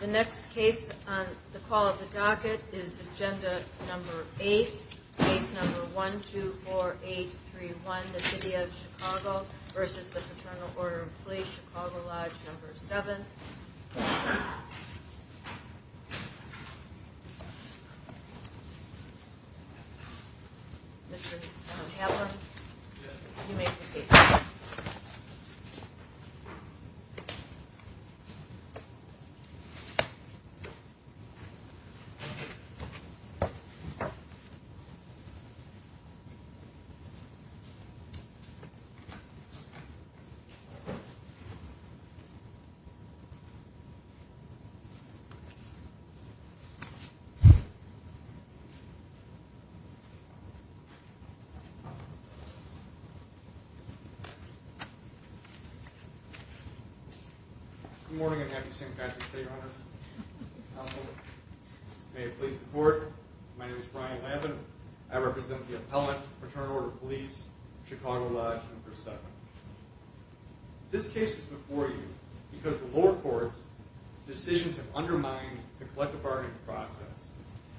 The next case on the call of the docket is agenda number 8, case number 124831, the city of Chicago v. Fraternal Order of Police, Chicago Lodge, number 7. Mr. Hammond, you may proceed. Thank you. May it please the court, my name is Brian Lavin, I represent the appellant, Fraternal Order of Police, Chicago Lodge, number 7. This case is before you because the lower courts' decisions have undermined the collective bargaining process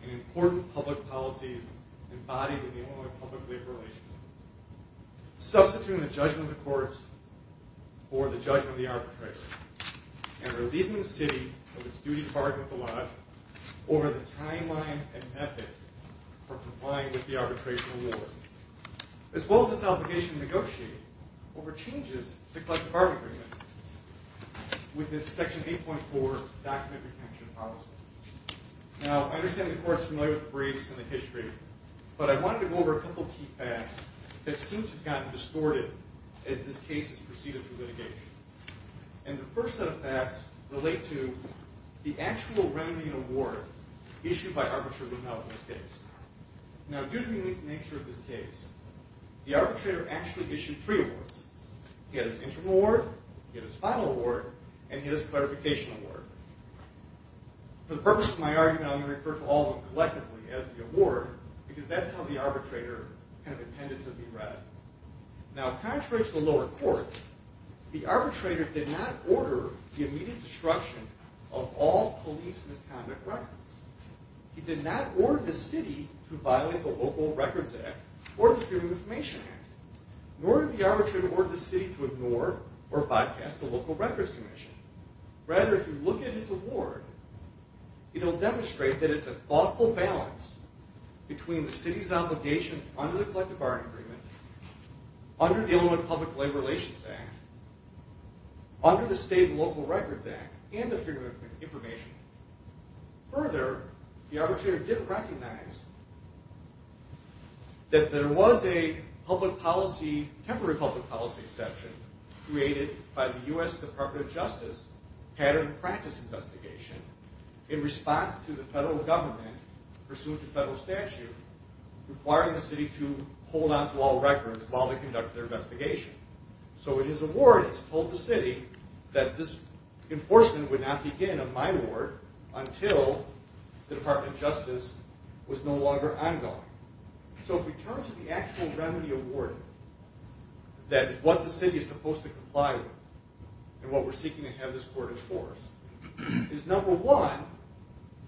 and important public policies embodied in the Illinois public-liberal relationship. Substituting the judgment of the courts for the judgment of the arbitrator, and relieving the city of its duty to bargain with the Lodge over the timeline and method for complying with the arbitration award, as well as its obligation to negotiate over changes to collective bargaining agreements with its section 8.4 document retention policy. Now, I understand the court is familiar with the briefs and the history, but I wanted to go over a couple of key facts that seem to have gotten distorted as this case has proceeded through litigation. And the first set of facts relate to the actual remedy and award issued by arbitrator Lutnow in this case. Now, due to the nature of this case, the arbitrator actually issued three awards. He had his interim award, he had his final award, and he had his clarification award. For the purpose of my argument, I'm going to refer to all of them collectively as the award, because that's how the arbitrator kind of intended to be read. Now, contrary to the lower courts, the arbitrator did not order the immediate destruction of all police misconduct records. He did not order the city to violate the Local Records Act or the Freedom of Information Act, nor did the arbitrator order the city to ignore or bypass the Local Records Commission. Rather, if you look at his award, it will demonstrate that it's a thoughtful balance between the city's obligation under the collective bargaining agreement, under the Illinois Public Labor Relations Act, under the State and Local Records Act, and the Freedom of Information Act. pattern practice investigation in response to the federal government, pursuant to federal statute, requiring the city to hold on to all records while they conduct their investigation. So in his award, it's told the city that this enforcement would not begin on my ward until the Department of Justice was no longer ongoing. So if we turn to the actual remedy awarded, that is what the city is supposed to comply with and what we're seeking to have this court enforce, is number one,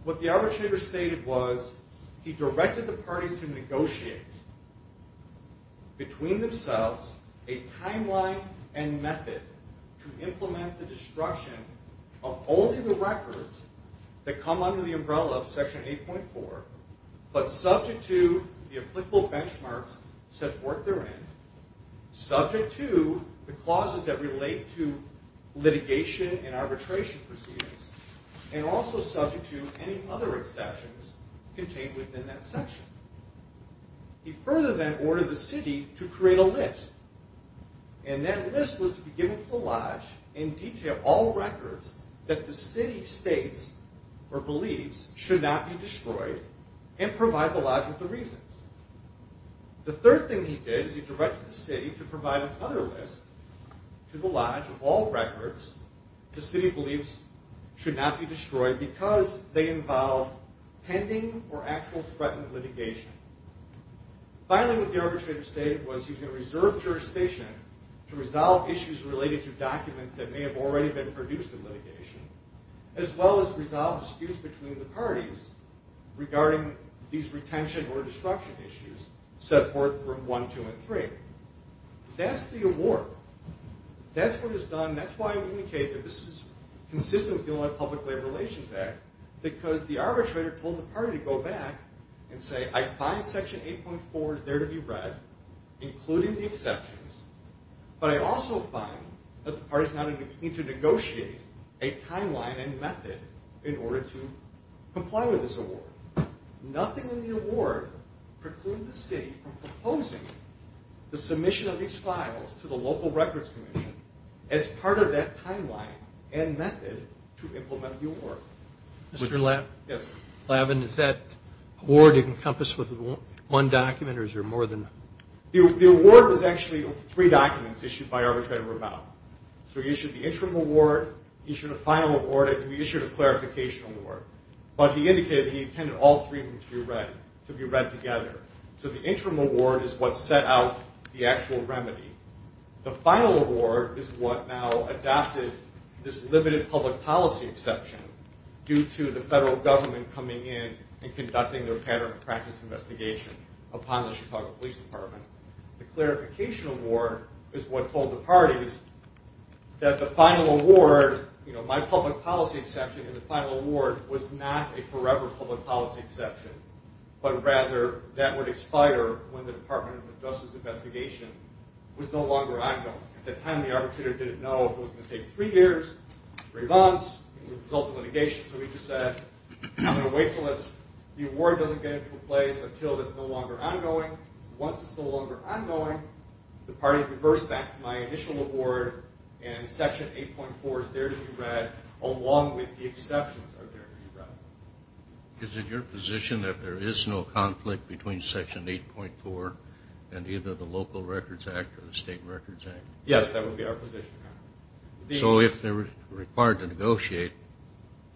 what the arbitrator stated was he directed the party to negotiate between themselves a timeline and method to implement the destruction of only the records that come under the umbrella of Section 8.4, but subject to the applicable benchmarks such work they're in, subject to the clauses that relate to litigation and arbitration proceedings, and also subject to any other exceptions contained within that section. He further then ordered the city to create a list, and that list was to be given to the Lodge and detail all records that the city states or believes should not be destroyed and provide the Lodge with the reasons. The third thing he did is he directed the city to provide another list to the Lodge of all records the city believes should not be destroyed because they involve pending or actual threatened litigation. Finally, what the arbitrator stated was he can reserve jurisdiction to resolve issues related to documents that may have already been produced in litigation, as well as resolve disputes between the parties regarding these retention or destruction issues, step forth from 1, 2, and 3. That's the award. That's what is done, and that's why I indicated this is consistent with the Illinois Public Labor Relations Act, because the arbitrator told the party to go back and say, I find Section 8.4 is there to be read, including the exceptions, but I also find that the party is now a timeline and method in order to comply with this award. Nothing in the award precluded the city from proposing the submission of these files to the Local Records Commission as part of that timeline and method to implement the award. Mr. Lavin, is that award encompassed with one document, or is there more than one? The award was actually three documents issued by Arbitrator Ravel. So he issued the interim award, he issued a final award, and he issued a clarification award. But he indicated that he intended all three to be read together. So the interim award is what set out the actual remedy. The final award is what now adopted this limited public policy exception due to the federal government coming in and conducting their pattern of practice investigation upon the Chicago Police Department. The clarification award is what told the parties that the final award, my public policy exception in the final award, was not a forever public policy exception, but rather that would expire when the Department of Justice investigation was no longer ongoing. At the time, the arbitrator didn't know if it was going to take three years, three months, the result of litigation. So he just said, I'm going to wait until the award doesn't get into place until it's no longer ongoing. Once it's no longer ongoing, the parties reverse back to my initial award, and Section 8.4 is there to be read along with the exceptions are there to be read. Is it your position that there is no conflict between Section 8.4 and either the Local Records Act or the State Records Act? Yes, that would be our position. So if they were required to negotiate,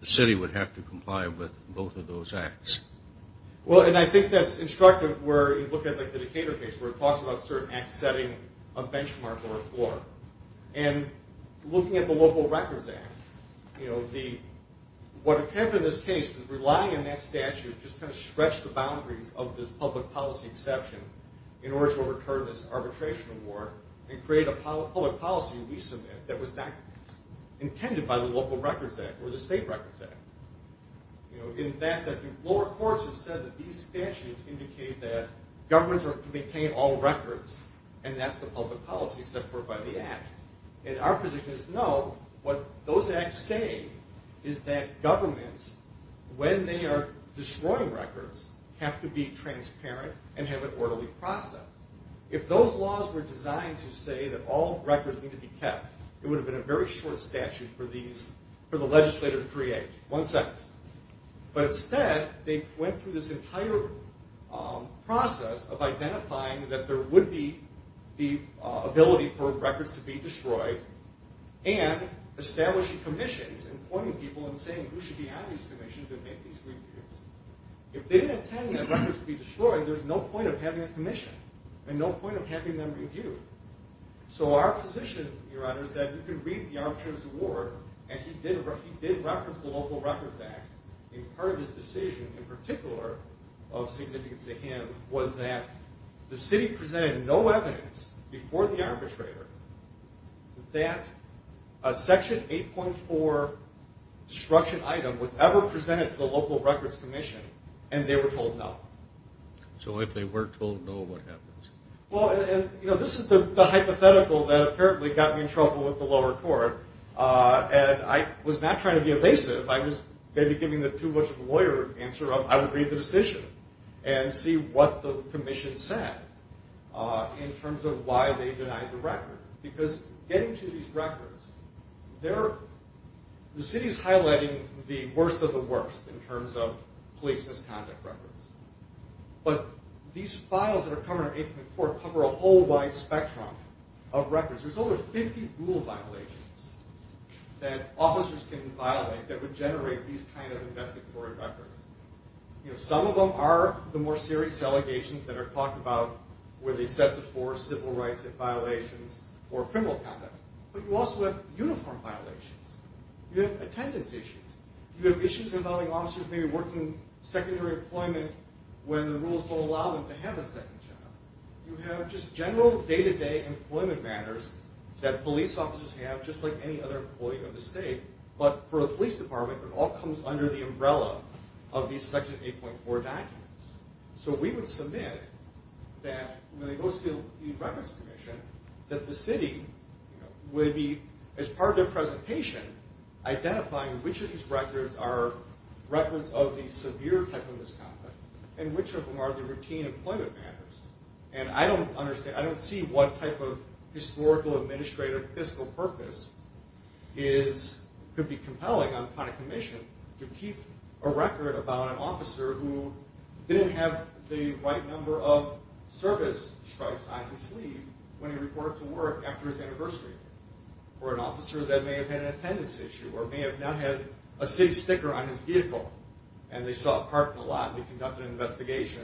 the city would have to comply with both of those acts? Well, and I think that's instructive where you look at the Decatur case where it talks about certain acts setting a benchmark or a floor. And looking at the Local Records Act, what happened in this case is relying on that statute just kind of stretched the boundaries of this public policy exception in order to overturn this arbitration award and create a public policy that we submit that was not intended by the Local Records Act or the State Records Act. In fact, the lower courts have said that these statutes indicate that governments are to maintain all records, and that's the public policy set forth by the Act. And our position is no, what those acts say is that governments, when they are destroying records, have to be transparent and have an orderly process. If those laws were designed to say that all records need to be kept, it would have been a very short statute for the legislator to create. But instead, they went through this entire process of identifying that there would be the ability for records to be destroyed and establishing commissions and pointing people and saying who should be on these commissions and make these reviews. If they didn't intend that records to be destroyed, there's no point of having a commission and no point of having them reviewed. So our position, Your Honor, is that you can read the arbitration award, and he did reference the Local Records Act. And part of his decision in particular of significance to him was that the city presented no evidence before the arbitrator that a Section 8.4 destruction item was ever presented to the Local Records Commission, and they were told no. So if they were told no, what happens? Well, this is the hypothetical that apparently got me in trouble with the lower court, and I was not trying to be evasive. I was maybe giving the too-much-of-a-lawyer answer of I would read the decision and see what the commission said in terms of why they denied the record. Because getting to these records, the city is highlighting the worst of the worst in terms of police misconduct records. But these files that are covered in 8.4 cover a whole wide spectrum of records. There's over 50 rule violations that officers can violate that would generate these kind of investigatory records. Some of them are the more serious allegations that are talked about where they assess the force, civil rights violations, or criminal conduct. But you also have uniform violations. You have attendance issues. You have issues involving officers maybe working secondary employment when the rules don't allow them to have a secondary job. You have just general day-to-day employment matters that police officers have, just like any other employee of the state. But for the police department, it all comes under the umbrella of these Section 8.4 documents. So we would submit that when they go to the Records Commission, that the city would be, as part of their presentation, identifying which of these records are records of the severe type of misconduct and which of them are the routine employment matters. And I don't see what type of historical, administrative, fiscal purpose could be compelling upon a commission to keep a record about an officer who didn't have the right number of service stripes on his sleeve when he reported to work after his anniversary. Or an officer that may have had an attendance issue or may have not had a state sticker on his vehicle and they saw it parked in a lot and they conducted an investigation.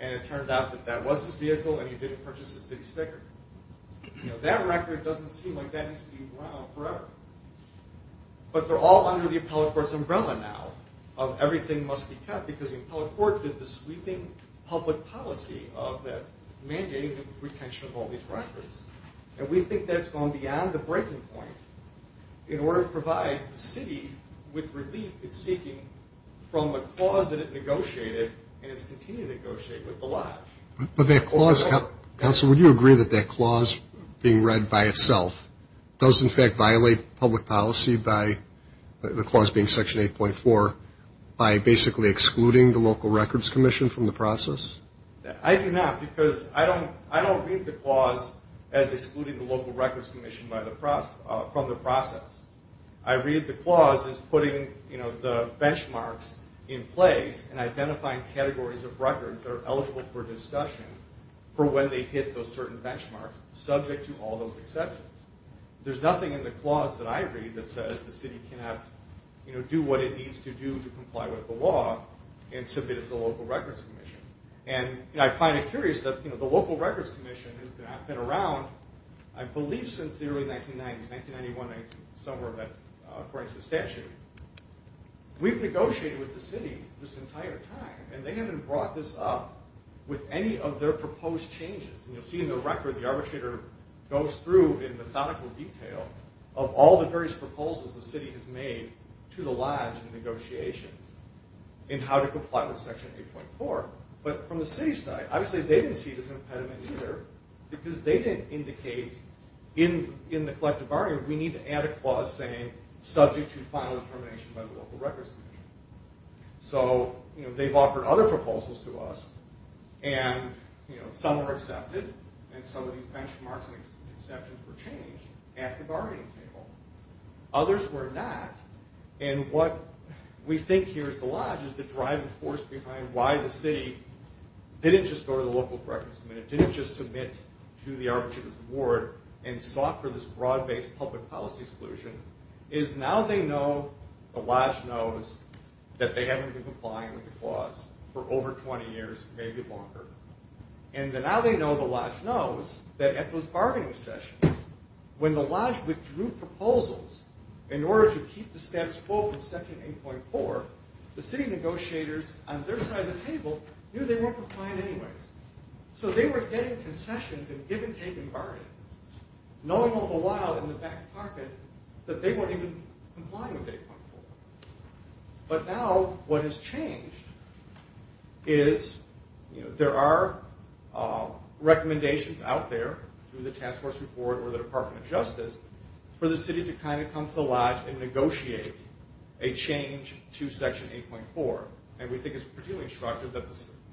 And it turned out that that was his vehicle and he didn't purchase the city sticker. That record doesn't seem like that needs to be run on forever. But they're all under the appellate court's umbrella now of everything must be kept because the appellate court did the sweeping public policy of mandating the retention of all these records. And we think that's gone beyond the breaking point in order to provide the city with relief it's seeking from the clause that it negotiated and is continuing to negotiate with the lot. But that clause, counsel, would you agree that that clause being read by itself does in fact violate public policy by, the clause being Section 8.4, by basically excluding the local records commission from the process? I do not because I don't read the clause as excluding the local records commission from the process. I read the clause as putting the benchmarks in place and identifying categories of records that are eligible for discussion for when they hit those certain benchmarks subject to all those exceptions. There's nothing in the clause that I read that says the city cannot do what it needs to do to comply with the law and submit it to the local records commission. And I find it curious that the local records commission has been around I believe since the early 1990s, 1991, somewhere according to the statute. We've negotiated with the city this entire time and they haven't brought this up with any of their proposed changes. And you'll see in the record the arbitrator goes through in methodical detail of all the various proposals the city has made to the lodge in negotiations in how to comply with Section 8.4. But from the city side, obviously they didn't see this impediment either because they didn't indicate in the collective bargaining we need to add a clause saying subject to final determination by the local records commission. So they've offered other proposals to us and some were accepted and some of these benchmarks and exceptions were changed at the bargaining table. Others were not and what we think here at the lodge is the driving force behind why the city didn't just go to the local records commission, didn't just submit to the arbitrator's ward and sought for this broad based public policy exclusion is now they know the lodge knows that they haven't been complying with the clause for over 20 years, maybe longer. And now they know the lodge knows that at those bargaining sessions when the lodge withdrew proposals in order to keep the steps full from Section 8.4, the city negotiators on their side of the table knew they weren't complying anyways. So they were getting concessions and give and take in bargaining, knowing all the while in the back pocket that they weren't even complying with 8.4. But now what has changed is there are recommendations out there through the task force report or the Department of Justice for the city to kind of come to the lodge and negotiate a change to Section 8.4. And we think it's particularly instructive that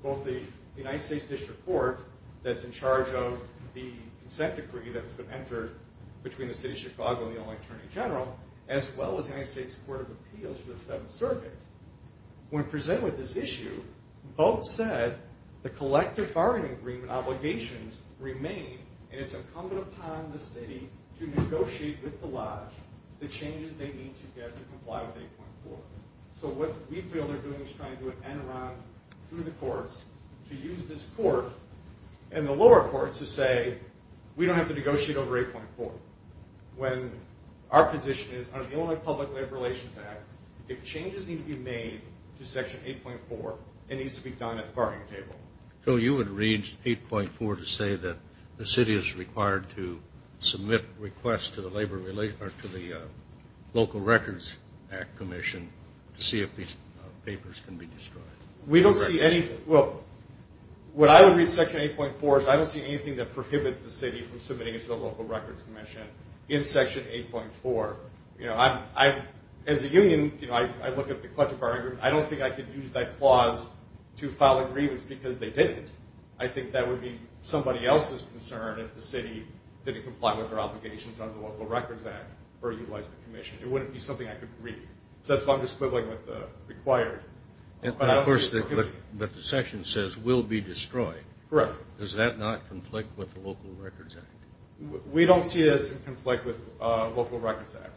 both the United States District Court that's in charge of the consent decree that's been entered between the City of Chicago and the Attorney General as well as the United States Court of Appeals for the Seventh Circuit when presented with this issue both said the collective bargaining agreement obligations remain and it's incumbent upon the city to negotiate with the lodge the changes they need to get to comply with 8.4. So what we feel they're doing is trying to do an end around through the courts to use this court and the lower courts to say we don't have to negotiate over 8.4 when our position is under the Illinois Public Labor Relations Act if changes need to be made to Section 8.4 it needs to be done at the bargaining table. So you would read 8.4 to say that the city is required to submit requests to the local records act commission to see if these papers can be destroyed? Well, what I would read in Section 8.4 is I don't see anything that prohibits the city from submitting to the local records commission in Section 8.4. As a union, I look at the collective bargaining agreement. I don't think I could use that clause to file a grievance because they didn't. I think that would be somebody else's concern if the city didn't comply with their obligations under the local records act or utilize the commission. It wouldn't be something I could read. So that's what I'm just quibbling with the required. But the section says will be destroyed. Correct. Does that not conflict with the local records act? We don't see this in conflict with local records act.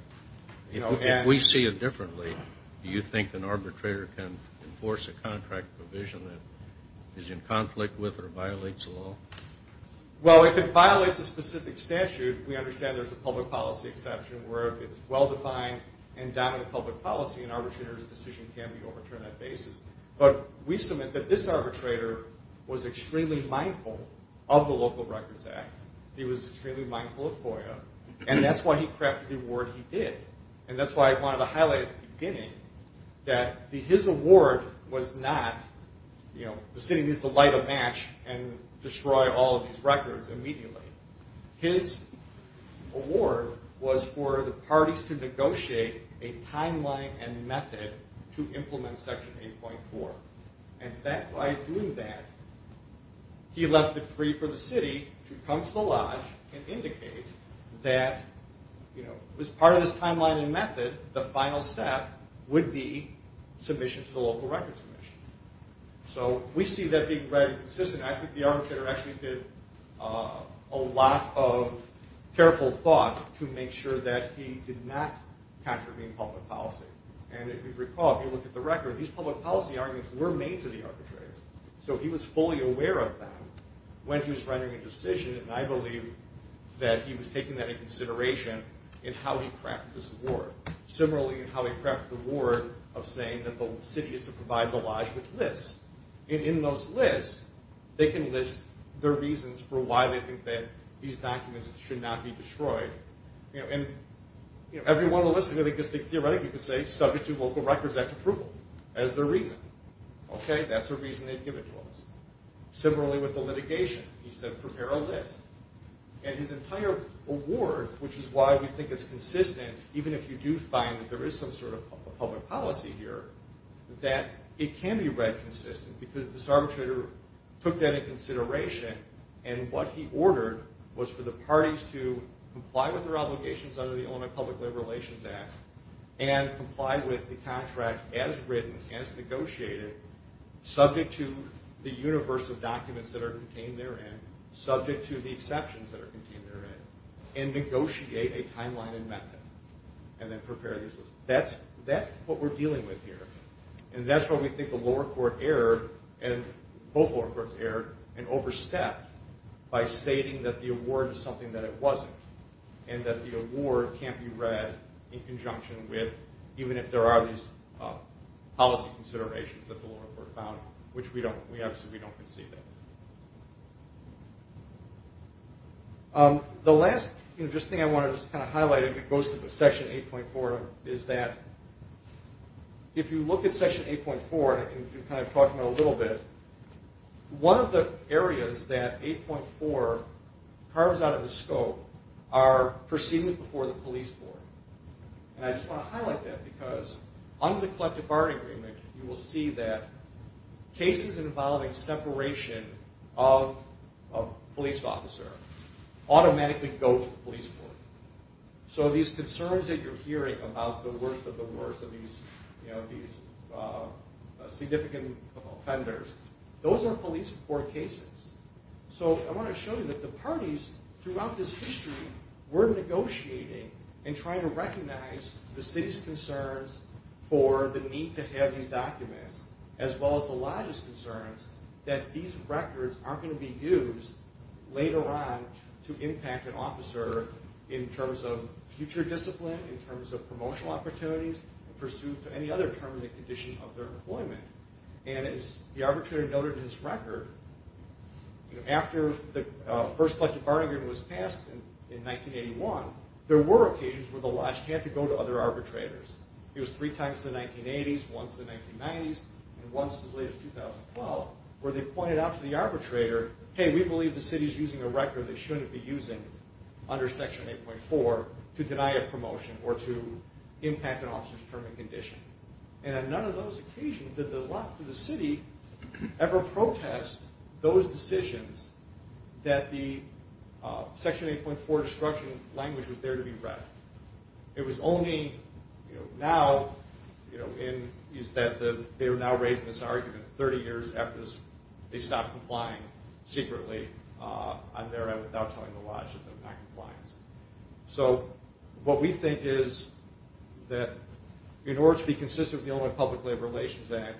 If we see it differently, do you think an arbitrator can enforce a contract provision that is in conflict with or violates the law? Well, if it violates a specific statute, we understand there's a public policy exception where if it's well defined and dominant public policy, an arbitrator's decision can be overturned on that basis. But we submit that this arbitrator was extremely mindful of the local records act. He was extremely mindful of FOIA. And that's why he crafted the award he did. And that's why I wanted to highlight at the beginning that his award was not the city needs to light a match and destroy all of these records immediately. His award was for the parties to negotiate a timeline and method to implement section 8.4. And that by doing that, he left it free for the city to come to the lodge and indicate that as part of this timeline and method, the final step would be submission to the local records commission. So we see that being read consistently. I think the arbitrator actually did a lot of careful thought to make sure that he did not contravene public policy. And if you recall, if you look at the record, these public policy arguments were made to the arbitrator. So he was fully aware of them when he was writing a decision. And I believe that he was taking that into consideration in how he crafted this award. Similarly, in how he crafted the award of saying that the city is to provide the lodge with lists. And in those lists, they can list their reasons for why they think that these documents should not be destroyed. And every one of the lists, I think, is theoretical. You can say subject to local records act approval as their reason. Okay, that's the reason they give it to us. Similarly, with the litigation, he said prepare a list. And his entire award, which is why we think it's consistent, even if you do find that there is some sort of public policy here, that it can be read consistently. Because this arbitrator took that into consideration. And what he ordered was for the parties to comply with their obligations under the Illinois Public Labor Relations Act. And comply with the contract as written, as negotiated, subject to the universe of documents that are contained therein. Subject to the exceptions that are contained therein. And negotiate a timeline and method. And then prepare these lists. That's what we're dealing with here. And that's why we think the lower court erred. Both lower courts erred and overstepped by stating that the award is something that it wasn't. And that the award can't be read in conjunction with, even if there are these policy considerations that the lower court found. Which we obviously don't concede that. The last thing I want to just kind of highlight, if it goes to Section 8.4, is that if you look at Section 8.4, and kind of talk about it a little bit, one of the areas that 8.4 carves out of the scope are proceedings before the police board. And I just want to highlight that, because under the collective bargaining agreement, you will see that cases involving separation of a police officer automatically go to the police board. So these concerns that you're hearing about the worst of the worst of these significant offenders, those are police board cases. So I want to show you that the parties throughout this history were negotiating and trying to recognize the city's concerns for the need to have these documents. As well as the lodge's concerns that these records aren't going to be used later on to impact an officer in terms of future discipline, in terms of promotional opportunities, in pursuit of any other terms and conditions of their employment. And as the arbitrator noted in his record, after the first collective bargaining agreement was passed in 1981, there were occasions where the lodge had to go to other arbitrators. It was three times in the 1980s, once in the 1990s, and once as late as 2012, where they pointed out to the arbitrator, hey, we believe the city's using a record they shouldn't be using under Section 8.4 to deny a promotion or to impact an officer's term and condition. And on none of those occasions did the city ever protest those decisions that the Section 8.4 destruction language was there to be read. It was only now that they were now raising this argument 30 years after they stopped complying secretly on their end without telling the lodge that they're not complying. So what we think is that in order to be consistent with the Illinois Public Labor Relations Act,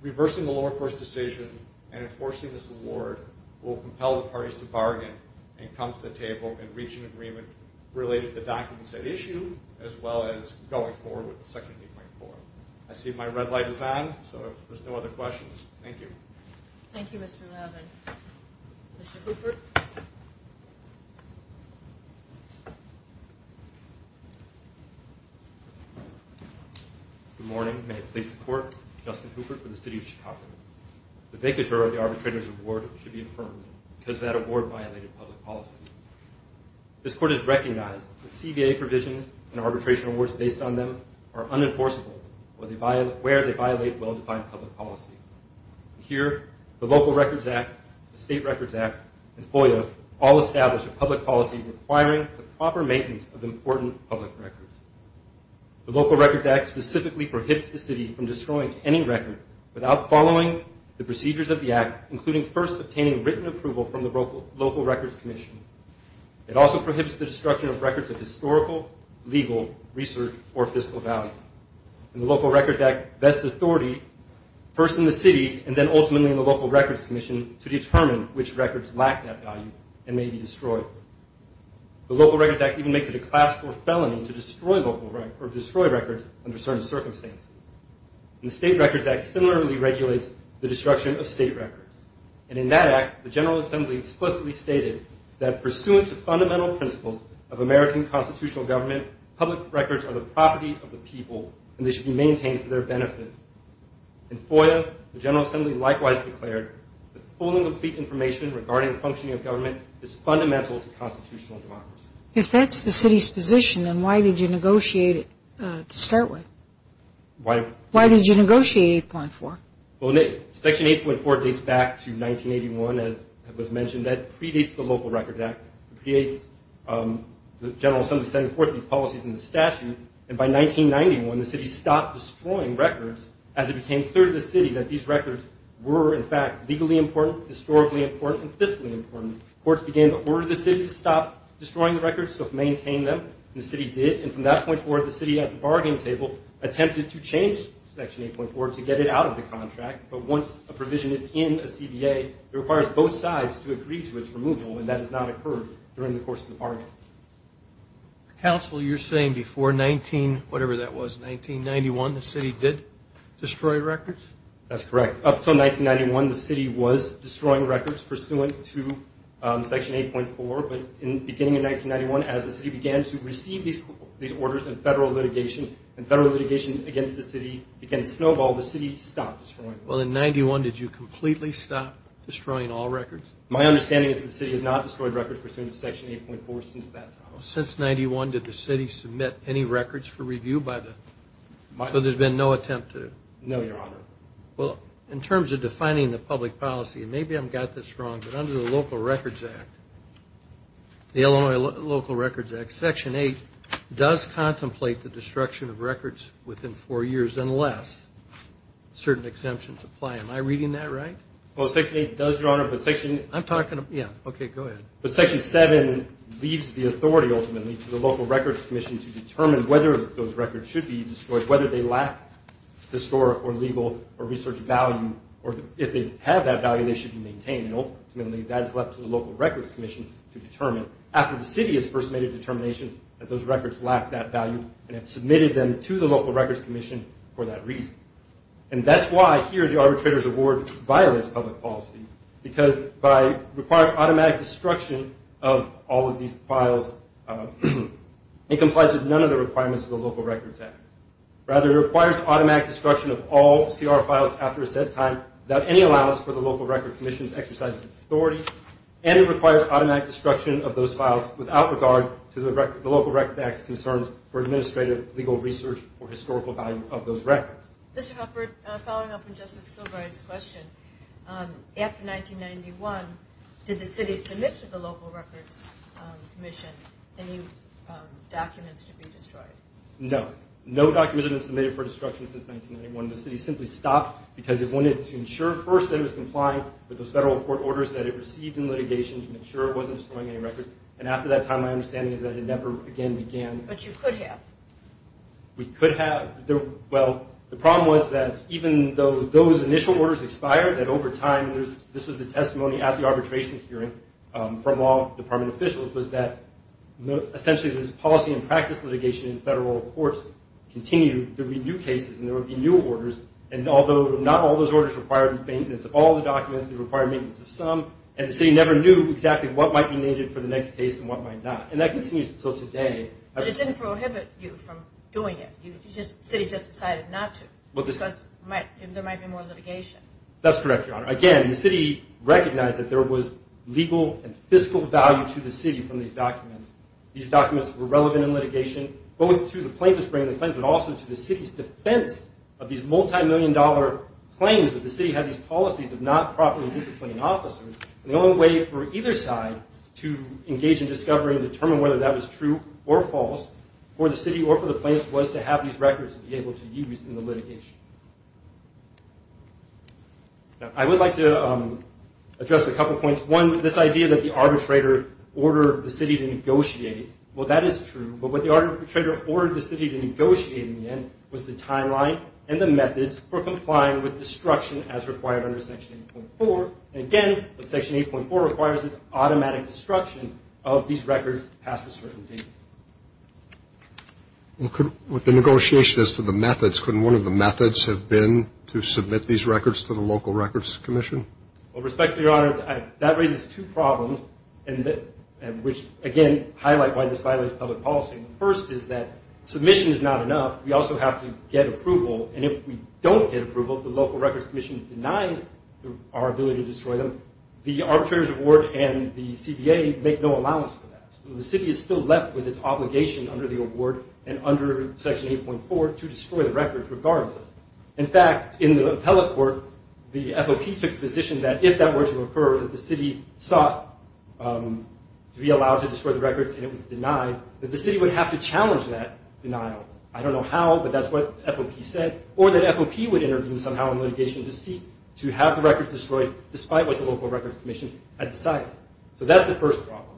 reversing the lower court's decision and enforcing this award will compel the parties to bargain and come to the table and reach an agreement related to documents at issue as well as going forward with Section 8.4. I see my red light is on, so if there's no other questions, thank you. Thank you, Mr. Robin. Mr. Hooper? Good morning. May it please the Court, Justin Hooper for the City of Chicago. The vacatur of the arbitrator's award should be affirmed because that award violated public policy. This Court has recognized that CVA provisions and arbitration awards based on them are unenforceable where they violate well-defined public policy. Here, the Local Records Act, the State Records Act, and FOIA all establish a public policy requiring the proper maintenance of important public records. The Local Records Act specifically prohibits the City from destroying any record without following the procedures of the Act, including first obtaining written approval from the Local Records Commission. It also prohibits the destruction of records of historical, legal, research, or fiscal value. The Local Records Act vests authority, first in the City and then ultimately in the Local Records Commission, to determine which records lack that value and may be destroyed. The Local Records Act even makes it a class 4 felony to destroy records under certain circumstances. The State Records Act similarly regulates the destruction of State records. In that Act, the General Assembly explicitly stated that, public records are the property of the people and they should be maintained for their benefit. In FOIA, the General Assembly likewise declared that If that's the City's position, then why did you negotiate it to start with? Why did you negotiate 8.4? Section 8.4 dates back to 1981, as was mentioned. That predates the Local Records Act. It predates the General Assembly setting forth these policies in the statute. And by 1991, the City stopped destroying records, as it became clear to the City that these records were, in fact, legally important, historically important, and fiscally important. Courts began to order the City to stop destroying the records, to maintain them. And the City did. And from that point forward, the City, at the bargaining table, attempted to change Section 8.4 to get it out of the contract. But once a provision is in a CBA, it requires both sides to agree to its removal. And that has not occurred during the course of the bargain. Counsel, you're saying before 19, whatever that was, 1991, the City did destroy records? That's correct. Up until 1991, the City was destroying records pursuant to Section 8.4. But in the beginning of 1991, as the City began to receive these orders and federal litigation, and federal litigation against the City began to snowball, the City stopped destroying records. Well, in 91, did you completely stop destroying all records? My understanding is the City has not destroyed records pursuant to Section 8.4 since that time. Since 91, did the City submit any records for review? So there's been no attempt to? No, Your Honor. Well, in terms of defining the public policy, and maybe I've got this wrong, but under the Local Records Act, the Illinois Local Records Act, Section 8 does contemplate the destruction of records within four years, unless certain exemptions apply. Am I reading that right? Well, Section 8 does, Your Honor, but Section – I'm talking – yeah, okay, go ahead. But Section 7 leaves the authority, ultimately, to the Local Records Commission to determine whether those records should be destroyed, whether they lack historic or legal or research value, or if they have that value, they should be maintained. And ultimately, that is left to the Local Records Commission to determine. After the City has first made a determination that those records lack that value and have submitted them to the Local Records Commission for that reason. And that's why here the arbitrator's award violates public policy, because by requiring automatic destruction of all of these files, it complies with none of the requirements of the Local Records Act. Rather, it requires automatic destruction of all CR files after a set time without any allowance for the Local Records Commission's exercise of authority, and it requires automatic destruction of those files without regard to the Local Records Act's concerns for administrative, legal, research, or historical value of those records. Mr. Hufford, following up on Justice Kilbride's question, after 1991, did the City submit to the Local Records Commission any documents to be destroyed? No. No documents have been submitted for destruction since 1991. The City simply stopped because it wanted to ensure, first, that it was complying with those federal court orders that it received in litigation to make sure it wasn't destroying any records. And after that time, my understanding is that it never again began. But you could have. We could have. Well, the problem was that even though those initial orders expired, that over time this was the testimony at the arbitration hearing from all department officials, was that essentially this policy and practice litigation in federal courts continued, there would be new cases and there would be new orders. And although not all those orders required maintenance, all the documents did require maintenance of some, and the City never knew exactly what might be needed for the next case and what might not. And that continues until today. But it didn't prohibit you from doing it. The City just decided not to because there might be more litigation. That's correct, Your Honor. Again, the City recognized that there was legal and fiscal value to the City from these documents. These documents were relevant in litigation, both to the plaintiffs bringing the claims, but also to the City's defense of these multimillion-dollar claims that the City had these policies of not properly disciplining officers. And the only way for either side to engage in discovery and determine whether that was true or false for the City or for the plaintiffs was to have these records to be able to use in the litigation. I would like to address a couple points. One, this idea that the arbitrator ordered the City to negotiate. Well, that is true. But what the arbitrator ordered the City to negotiate in the end was the timeline and the methods for complying with destruction as required under Section 8.4. And, again, Section 8.4 requires this automatic destruction of these records past a certain date. With the negotiation as to the methods, couldn't one of the methods have been to submit these records to the Local Records Commission? Well, respectfully, Your Honor, that raises two problems, which, again, highlight why this violates public policy. The first is that submission is not enough. We also have to get approval. And if we don't get approval, if the Local Records Commission denies our ability to destroy them, the arbitrator's award and the CBA make no allowance for that. So the City is still left with its obligation under the award and under Section 8.4 to destroy the records regardless. In fact, in the appellate court, the FOP took the position that if that were to occur, that the City sought to be allowed to destroy the records and it was denied, that the City would have to challenge that denial. I don't know how, but that's what FOP said. Or that FOP would intervene somehow in litigation to seek to have the records destroyed despite what the Local Records Commission had decided. So that's the first problem.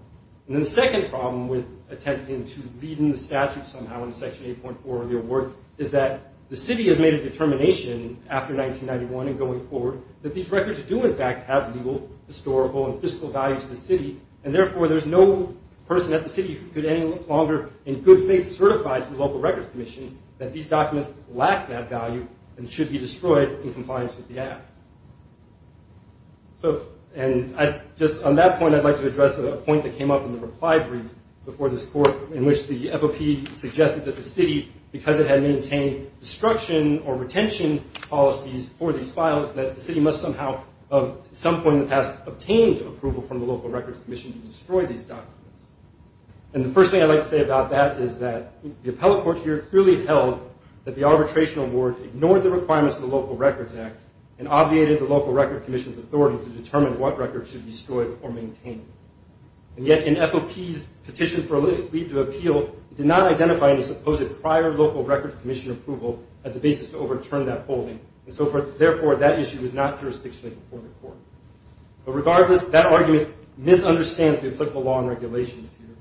And then the second problem with attempting to lead in the statute somehow in Section 8.4 of the award is that the City has made a determination after 1991 and going forward that these records do, in fact, have legal, historical, and fiscal value to the City, and therefore there's no person at the City who could any longer in good faith certify to the Local Records Commission that these documents lack that value and should be destroyed in compliance with the app. And just on that point, I'd like to address a point that came up in the reply brief before this court in which the FOP suggested that the City, because it had maintained destruction or retention policies for these files, that the City must somehow, at some point in the past, obtain approval from the Local Records Commission to destroy these documents. And the first thing I'd like to say about that is that the appellate court here clearly held that the arbitration award ignored the requirements of the Local Records Act and obviated the Local Records Commission's authority to determine what records should be destroyed or maintained. And yet in FOP's petition for a leave to appeal, it did not identify any supposed prior Local Records Commission approval as a basis to overturn that holding, and so therefore that issue is not jurisdictionally before the court. But regardless, that argument misunderstands the applicable law and regulations here.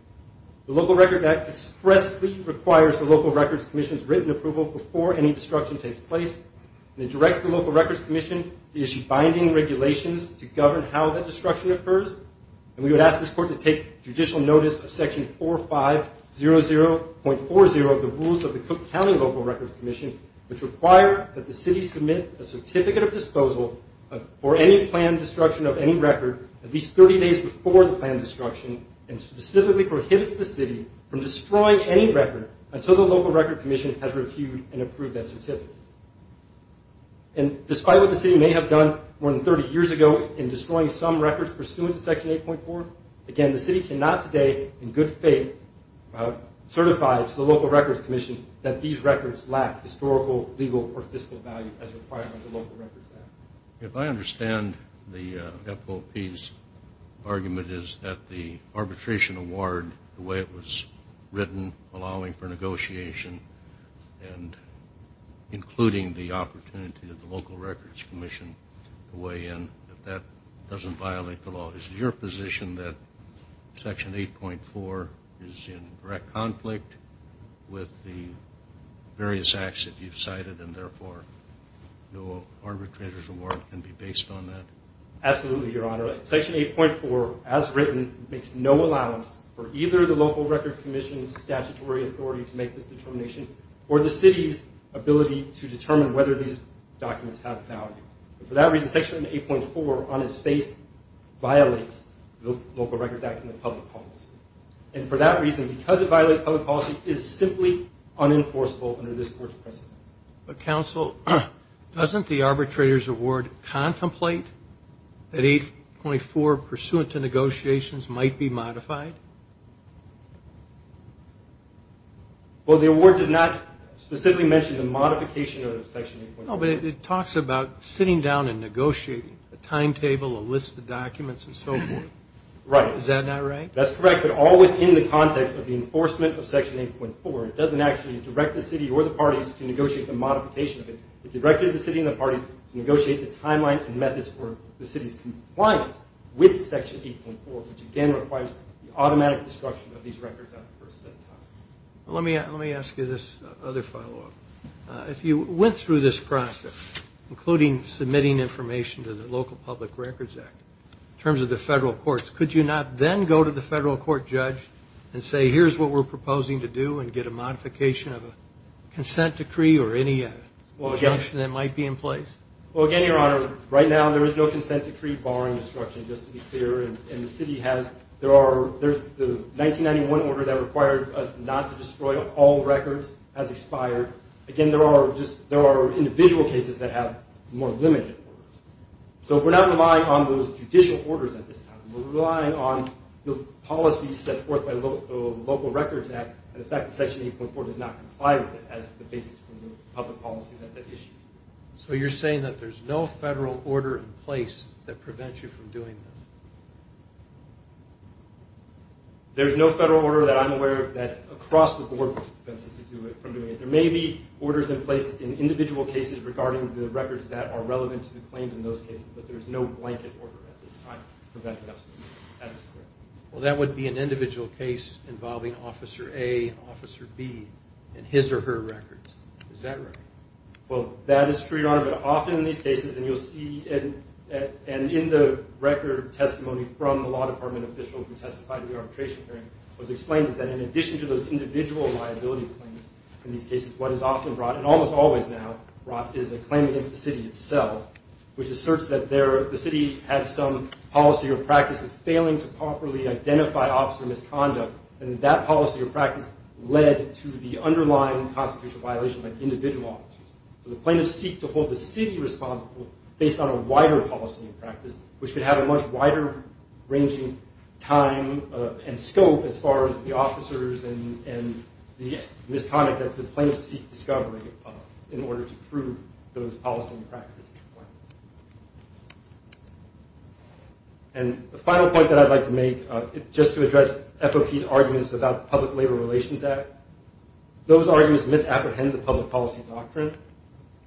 The Local Records Act expressly requires the Local Records Commission's written approval before any destruction takes place, and it directs the Local Records Commission to issue binding regulations to govern how that destruction occurs, and we would ask this court to take judicial notice of section 4500.40 of the rules of the Cook County Local Records Commission, which require that the City submit a certificate of disposal for any planned destruction of any record at least 30 days before the planned destruction, and specifically prohibits the City from destroying any record until the Local Records Commission has reviewed and approved that certificate. And despite what the City may have done more than 30 years ago in destroying some records pursuant to section 8.4, again, the City cannot today, in good faith, certify to the Local Records Commission that these records lack historical, legal, or fiscal value as required by the Local Records Act. If I understand the FOP's argument is that the arbitration award, the way it was written allowing for negotiation and including the opportunity of the Local Records Commission to weigh in, that that doesn't violate the law. Is it your position that section 8.4 is in direct conflict with the various acts that you've cited, and therefore no arbitrator's award can be based on that? Absolutely, Your Honor. Section 8.4, as written, makes no allowance for either the Local Records Commission's statutory authority to make this determination or the City's ability to determine whether these documents have value. And for that reason, section 8.4, on its face, violates the Local Records Act and the public policy. And for that reason, because it violates public policy, it is simply unenforceable under this Court's precedent. But, Counsel, doesn't the arbitrator's award contemplate that 8.4, pursuant to negotiations, might be modified? Well, the award does not specifically mention the modification of section 8.4. No, but it talks about sitting down and negotiating a timetable, a list of documents, and so forth. Right. Is that not right? That's correct, but all within the context of the enforcement of section 8.4. It doesn't actually direct the City or the parties to negotiate the modification of it. It directs the City and the parties to negotiate the timeline and methods for the City's compliance with section 8.4, which again requires the automatic destruction of these records at the first set time. Let me ask you this other follow-up. If you went through this process, including submitting information to the Local Public Records Act, in terms of the federal courts, could you not then go to the federal court judge and say, here's what we're proposing to do and get a modification of a consent decree or any injunction that might be in place? Well, again, Your Honor, right now there is no consent decree barring destruction, just to be clear, and the City has. The 1991 order that required us not to destroy all records has expired. Again, there are individual cases that have more limited orders. So we're not relying on those judicial orders at this time. We're relying on the policies set forth by the Local Records Act and the fact that section 8.4 does not comply with it as the basis for the public policy that's at issue. So you're saying that there's no federal order in place that prevents you from doing this? There's no federal order that I'm aware of that across the board prevents us from doing it. There may be orders in place in individual cases regarding the records that are relevant to the claims in those cases, but there's no blanket order at this time preventing us from doing it. That is correct. Well, that would be an individual case involving Officer A, Officer B, and his or her records. Is that right? Well, that is true, Your Honor, but often in these cases, and you'll see, and in the record testimony from the law department officials who testified in the arbitration hearing, what's explained is that in addition to those individual liability claims in these cases, what is often brought, and almost always now brought, is a claim against the city itself, which asserts that the city has some policy or practice of failing to properly identify officer misconduct, and that policy or practice led to the underlying constitutional violations of individual officers. So the plaintiffs seek to hold the city responsible based on a wider policy and practice, which could have a much wider-ranging time and scope as far as the officers and the misconduct that the plaintiffs seek discovery of in order to prove those policy and practice. And the final point that I'd like to make, just to address FOP's arguments about the Public Labor Relations Act, those arguments misapprehend the public policy doctrine.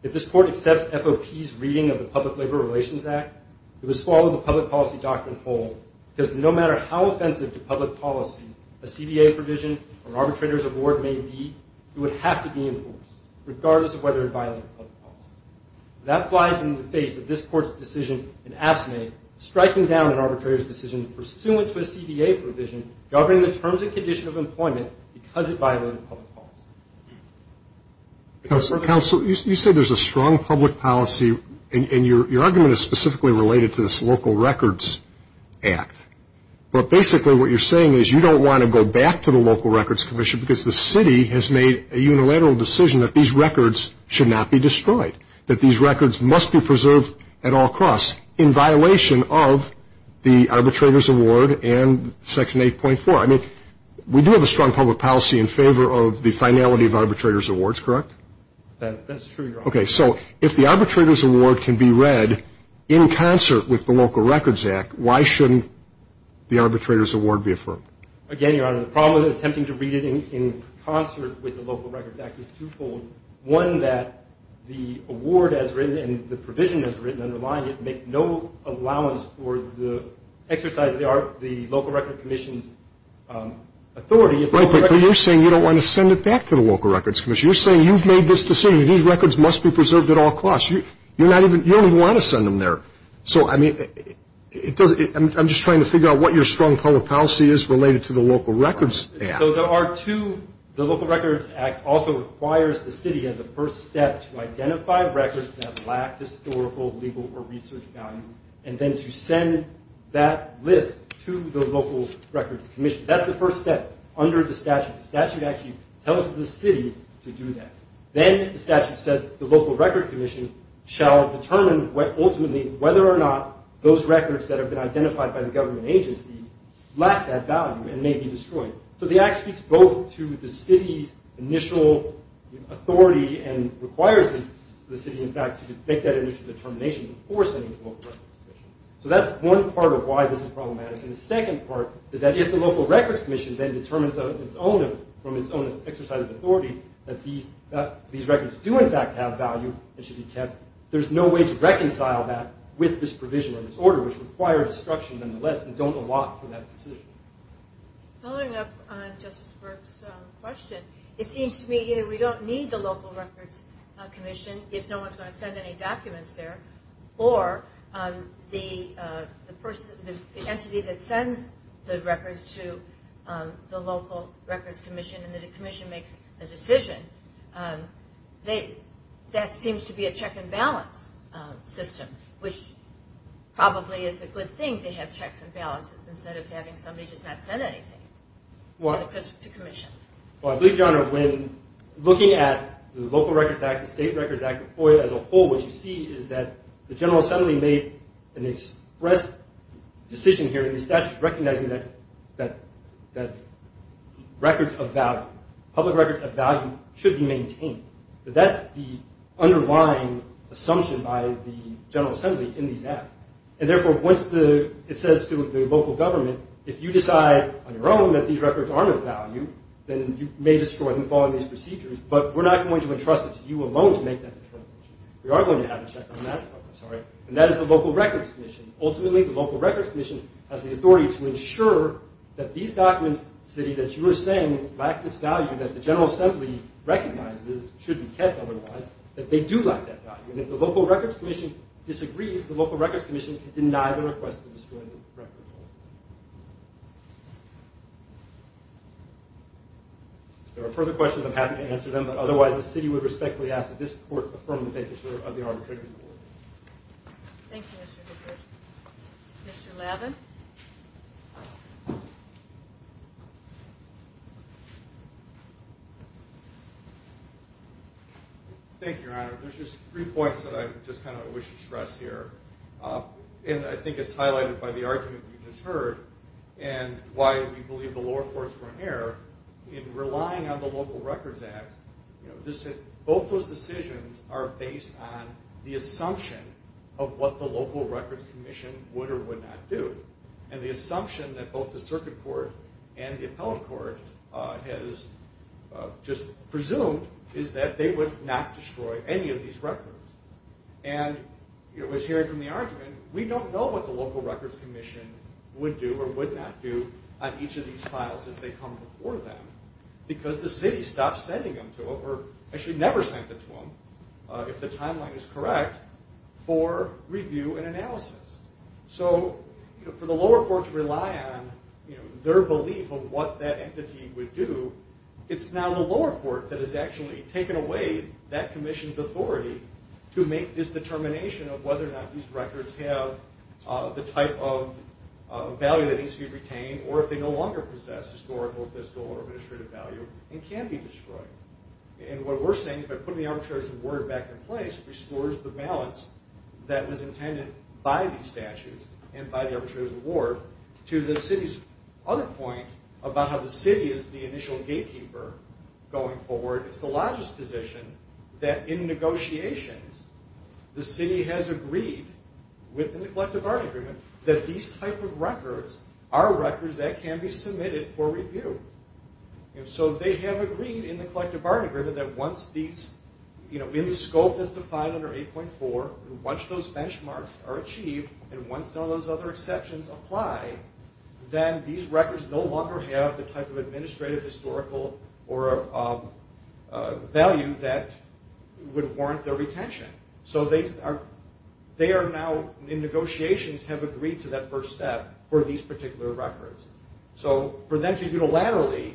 If this Court accepts FOP's reading of the Public Labor Relations Act, it would swallow the public policy doctrine whole, because no matter how offensive to public policy a CBA provision or arbitrator's award may be, it would have to be enforced, regardless of whether it violated public policy. That flies in the face of this Court's decision in AFSCME, striking down an arbitrator's decision pursuant to a CBA provision governing the terms and condition of employment because it violated public policy. Counsel, you say there's a strong public policy, and your argument is specifically related to this Local Records Act. But basically what you're saying is you don't want to go back to the Local Records Commission because the city has made a unilateral decision that these records should not be destroyed, that these records must be preserved at all costs in violation of the arbitrator's award and Section 8.4. I mean, we do have a strong public policy in favor of the finality of arbitrator's awards, correct? That's true, Your Honor. Okay, so if the arbitrator's award can be read in concert with the Local Records Act, why shouldn't the arbitrator's award be affirmed? Again, Your Honor, the problem with attempting to read it in concert with the Local Records Act is twofold. One, that the award as written and the provision as written underlying it make no allowance for the exercise of the Local Records Commission's authority. Right, but you're saying you don't want to send it back to the Local Records Commission. You're saying you've made this decision. These records must be preserved at all costs. You don't even want to send them there. So, I mean, I'm just trying to figure out what your strong public policy is related to the Local Records Act. So the Local Records Act also requires the city as a first step to identify records that lack historical, legal, or research value and then to send that list to the Local Records Commission. That's the first step under the statute. The statute actually tells the city to do that. Then the statute says the Local Records Commission shall determine ultimately whether or not those records that have been identified by the government agency lack that value and may be destroyed. So the act speaks both to the city's initial authority and requires the city, in fact, to make that initial determination before sending it to the Local Records Commission. So that's one part of why this is problematic. And the second part is that if the Local Records Commission then determines from its own exercise of authority that these records do, in fact, have value and should be kept, there's no way to reconcile that with this provision or this order, which requires destruction nonetheless and don't allot for that decision. Following up on Justice Burke's question, it seems to me either we don't need the Local Records Commission if no one's going to send any documents there, or the entity that sends the records to the Local Records Commission and the commission makes a decision, that seems to be a check and balance system, which probably is a good thing to have checks and balances instead of having somebody just not send anything to commission. Well, I believe, Your Honor, when looking at the Local Records Act, the State Records Act, as a whole, what you see is that the General Assembly made an express decision here in the statute recognizing that records of value, public records of value, should be maintained. That's the underlying assumption by the General Assembly in these acts. And therefore, once it says to the local government, if you decide on your own that these records aren't of value, then you may destroy them following these procedures. But we're not going to entrust it to you alone to make that determination. We are going to have a check on that. And that is the Local Records Commission. Ultimately, the Local Records Commission has the authority to ensure that these documents, that you were saying, lack this value that the General Assembly recognizes, should be kept otherwise, that they do lack that value. And if the Local Records Commission disagrees, the Local Records Commission can deny the request to destroy the record. If there are further questions, I'm happy to answer them. But otherwise, the city would respectfully ask that this court affirm the vacancy of the arbitrators' board. Thank you, Mr. Hickert. Mr. Lavin? Thank you, Your Honor. There's just three points that I just kind of wish to stress here. And I think it's highlighted by the argument you just heard and why we believe the lower courts were in error. In relying on the Local Records Act, both those decisions are based on the assumption of what the Local Records Commission would or would not do. And the assumption that both the Circuit Court and the Appellate Court has just presumed is that they would not destroy any of these records. And it was hearing from the argument, we don't know what the Local Records Commission would do or would not do on each of these files as they come before them, because the city stopped sending them to them, or actually never sent them to them, if the timeline is correct, for review and analysis. So for the lower courts to rely on their belief of what that entity would do, it's now the lower court that has actually taken away that commission's authority to make this determination of whether or not these records have the type of value that needs to be retained, or if they no longer possess historical, fiscal, or administrative value and can be destroyed. And what we're saying is by putting the arbitrator's award back in place, it restores the balance that was intended by these statutes and by the arbitrator's award to the city's other point about how the city is the initial gatekeeper going forward. It's the largest position that in negotiations the city has agreed within the collective bargaining agreement that these type of records are records that can be submitted for review. And so they have agreed in the collective bargaining agreement that once these, in the scope that's defined under 8.4, once those benchmarks are achieved and once those other exceptions apply, then these records no longer have the type of administrative, historical, or value that would warrant their retention. So they are now in negotiations, have agreed to that first step for these particular records. So for them to unilaterally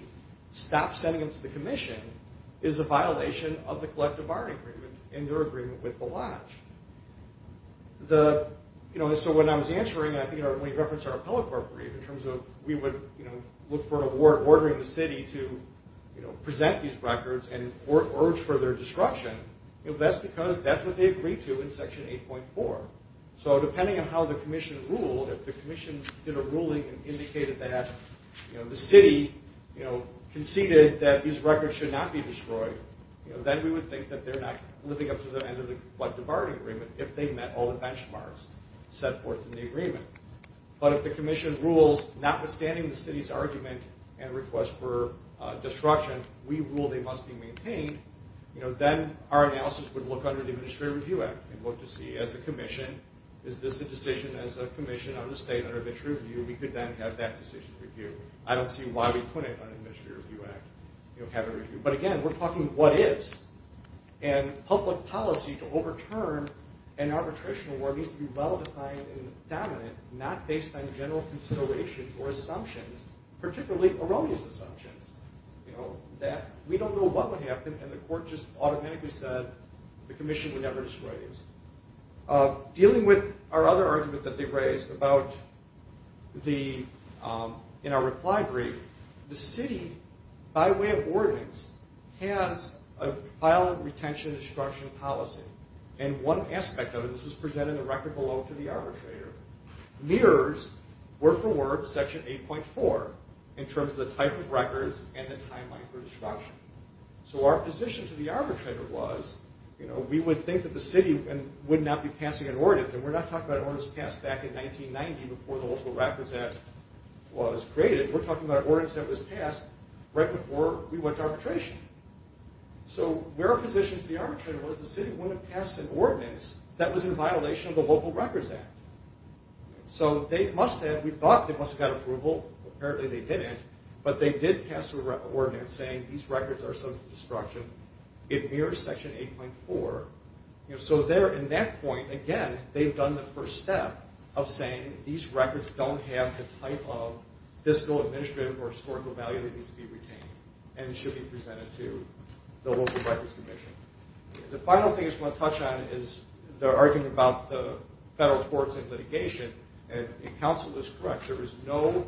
stop sending them to the commission is a violation of the collective bargaining agreement and their agreement with the lodge. So when I was answering, and I think when you referenced our appellate court brief, in terms of we would look for an award ordering the city to present these records and urge for their destruction, that's because that's what they agreed to in Section 8.4. So depending on how the commission ruled, if the commission did a ruling and indicated that the city conceded that these records should not be destroyed, then we would think that they're not living up to their end of the collective bargaining agreement if they met all the benchmarks set forth in the agreement. But if the commission rules notwithstanding the city's argument and request for destruction, we rule they must be maintained, then our analysis would look under the Administrative Review Act and look to see as a commission, is this a decision as a commission on the state under which review, we could then have that decision reviewed. I don't see why we couldn't under the Administrative Review Act have it reviewed. But again, we're talking what-ifs. And public policy to overturn an arbitration award needs to be well-defined and dominant, not based on general considerations or assumptions, particularly erroneous assumptions. You know, that we don't know what would happen, and the court just automatically said the commission would never destroy these. Dealing with our other argument that they raised about the, in our reply brief, the city, by way of ordinance, has a file retention destruction policy. And one aspect of it, and this was presented in the record below to the arbitrator, mirrors word-for-word Section 8.4 in terms of the type of records and the timeline for destruction. So our position to the arbitrator was, you know, we would think that the city would not be passing an ordinance, and we're not talking about an ordinance passed back in 1990 before the Local Records Act was created. We're talking about an ordinance that was passed right before we went to arbitration. So where our position to the arbitrator was, the city wouldn't have passed an ordinance that was in violation of the Local Records Act. So they must have, we thought they must have got approval. Apparently they didn't. But they did pass an ordinance saying these records are subject to destruction. It mirrors Section 8.4. So there, in that point, again, they've done the first step of saying these records don't have the type of fiscal, administrative, or historical value that needs to be retained and should be presented to the Local Records Commission. The final thing I just want to touch on is the argument about the federal courts and litigation. And if counsel is correct, there is no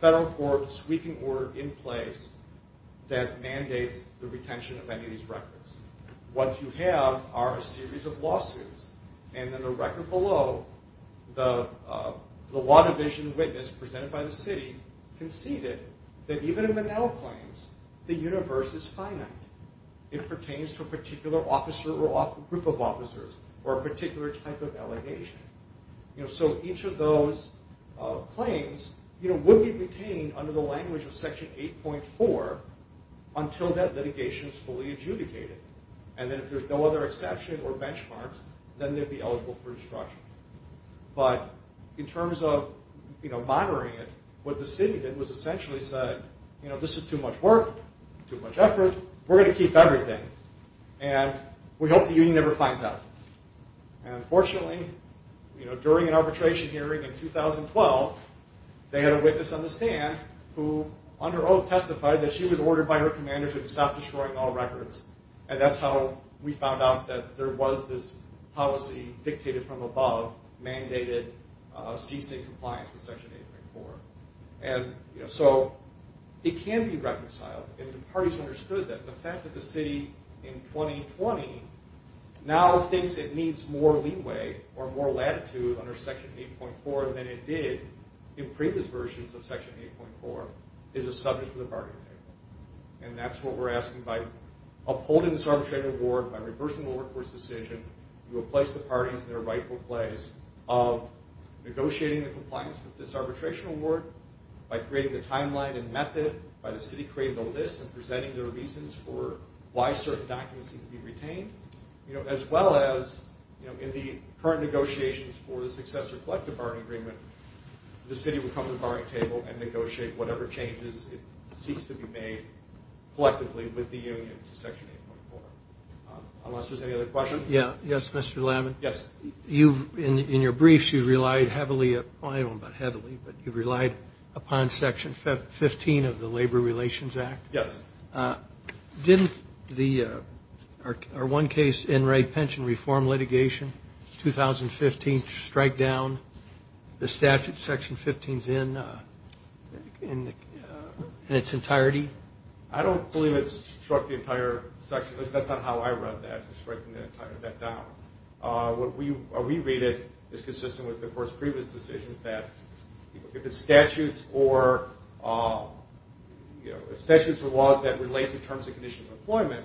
federal court sweeping order in place that mandates the retention of any of these records. What you have are a series of lawsuits. And in the record below, the law division witness presented by the city conceded that even in the now claims, the universe is finite. It pertains to a particular officer or group of officers or a particular type of allegation. So each of those claims would be retained under the language of Section 8.4 until that litigation is fully adjudicated. And then if there's no other exception or benchmarks, then they'd be eligible for destruction. But in terms of monitoring it, what the city did was essentially say, this is too much work, too much effort, we're going to keep everything. And we hope the union never finds out. And fortunately, during an arbitration hearing in 2012, they had a witness on the stand who, under oath, testified that she was ordered by her commanders to stop destroying all records. And that's how we found out that there was this policy dictated from above, mandated ceasing compliance with Section 8.4. And so it can be reconciled. And the parties understood that the fact that the city in 2020 now thinks it needs more leeway or more latitude under Section 8.4 than it did in previous versions of Section 8.4 is a subject for the bargaining table. And that's what we're asking. By upholding this arbitration award, by reversing the workforce decision, we will place the parties in their rightful place of negotiating the compliance with this arbitration award, by creating the timeline and method, by the city creating the list and presenting their reasons for why certain documents need to be retained, as well as in the current negotiations for the successor collective bargaining agreement, the city will come to the bargaining table and negotiate whatever changes it seeks to be made collectively with the union to Section 8.4. Unless there's any other questions. Yes, Mr. Lavin. Yes. In your briefs, you relied heavily upon Section 15 of the Labor Relations Act. Yes. Didn't our one case, Enright Pension Reform Litigation, 2015, strike down the statute Section 15 is in in its entirety? I don't believe it struck the entire section. At least that's not how I read that, striking that down. What we read it is consistent with, of course, previous decisions that if it's statutes or statutes or laws that relate to terms and conditions of employment,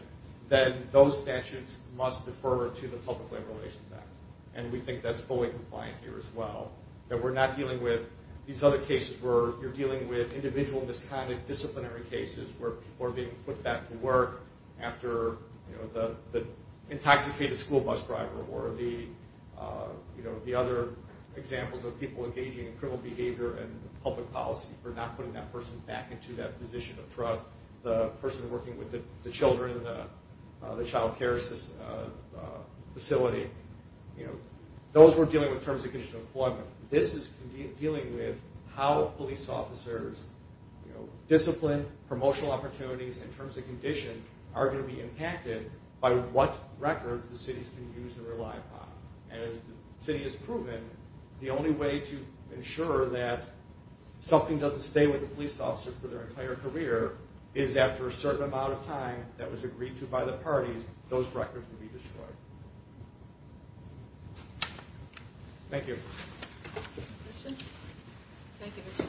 then those statutes must defer to the Public Labor Relations Act, and we think that's fully compliant here as well, that we're not dealing with these other cases where you're dealing with individual misconduct, disciplinary cases where people are being put back to work after the intoxicated school bus driver or the other examples of people engaging in criminal behavior and public policy for not putting that person back into that position of trust, the person working with the children in the child care facility. Those were dealing with terms and conditions of employment. This is dealing with how police officers' discipline, promotional opportunities, and terms and conditions are going to be impacted by what records the cities can use and rely upon, and as the city has proven, the only way to ensure that something doesn't stay with a police officer for their entire career is after a certain amount of time that was agreed to by the parties, those records will be destroyed. Thank you. Any questions? Thank you, Mr.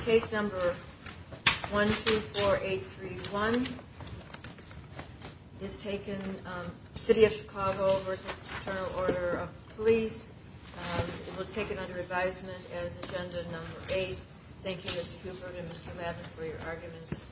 Chairman. Case number 124831 is taken, City of Chicago v. Internal Order of the Police. It was taken under advisement as agenda number eight. Thank you, Mr. Cooper and Mr. Lavin, for your arguments.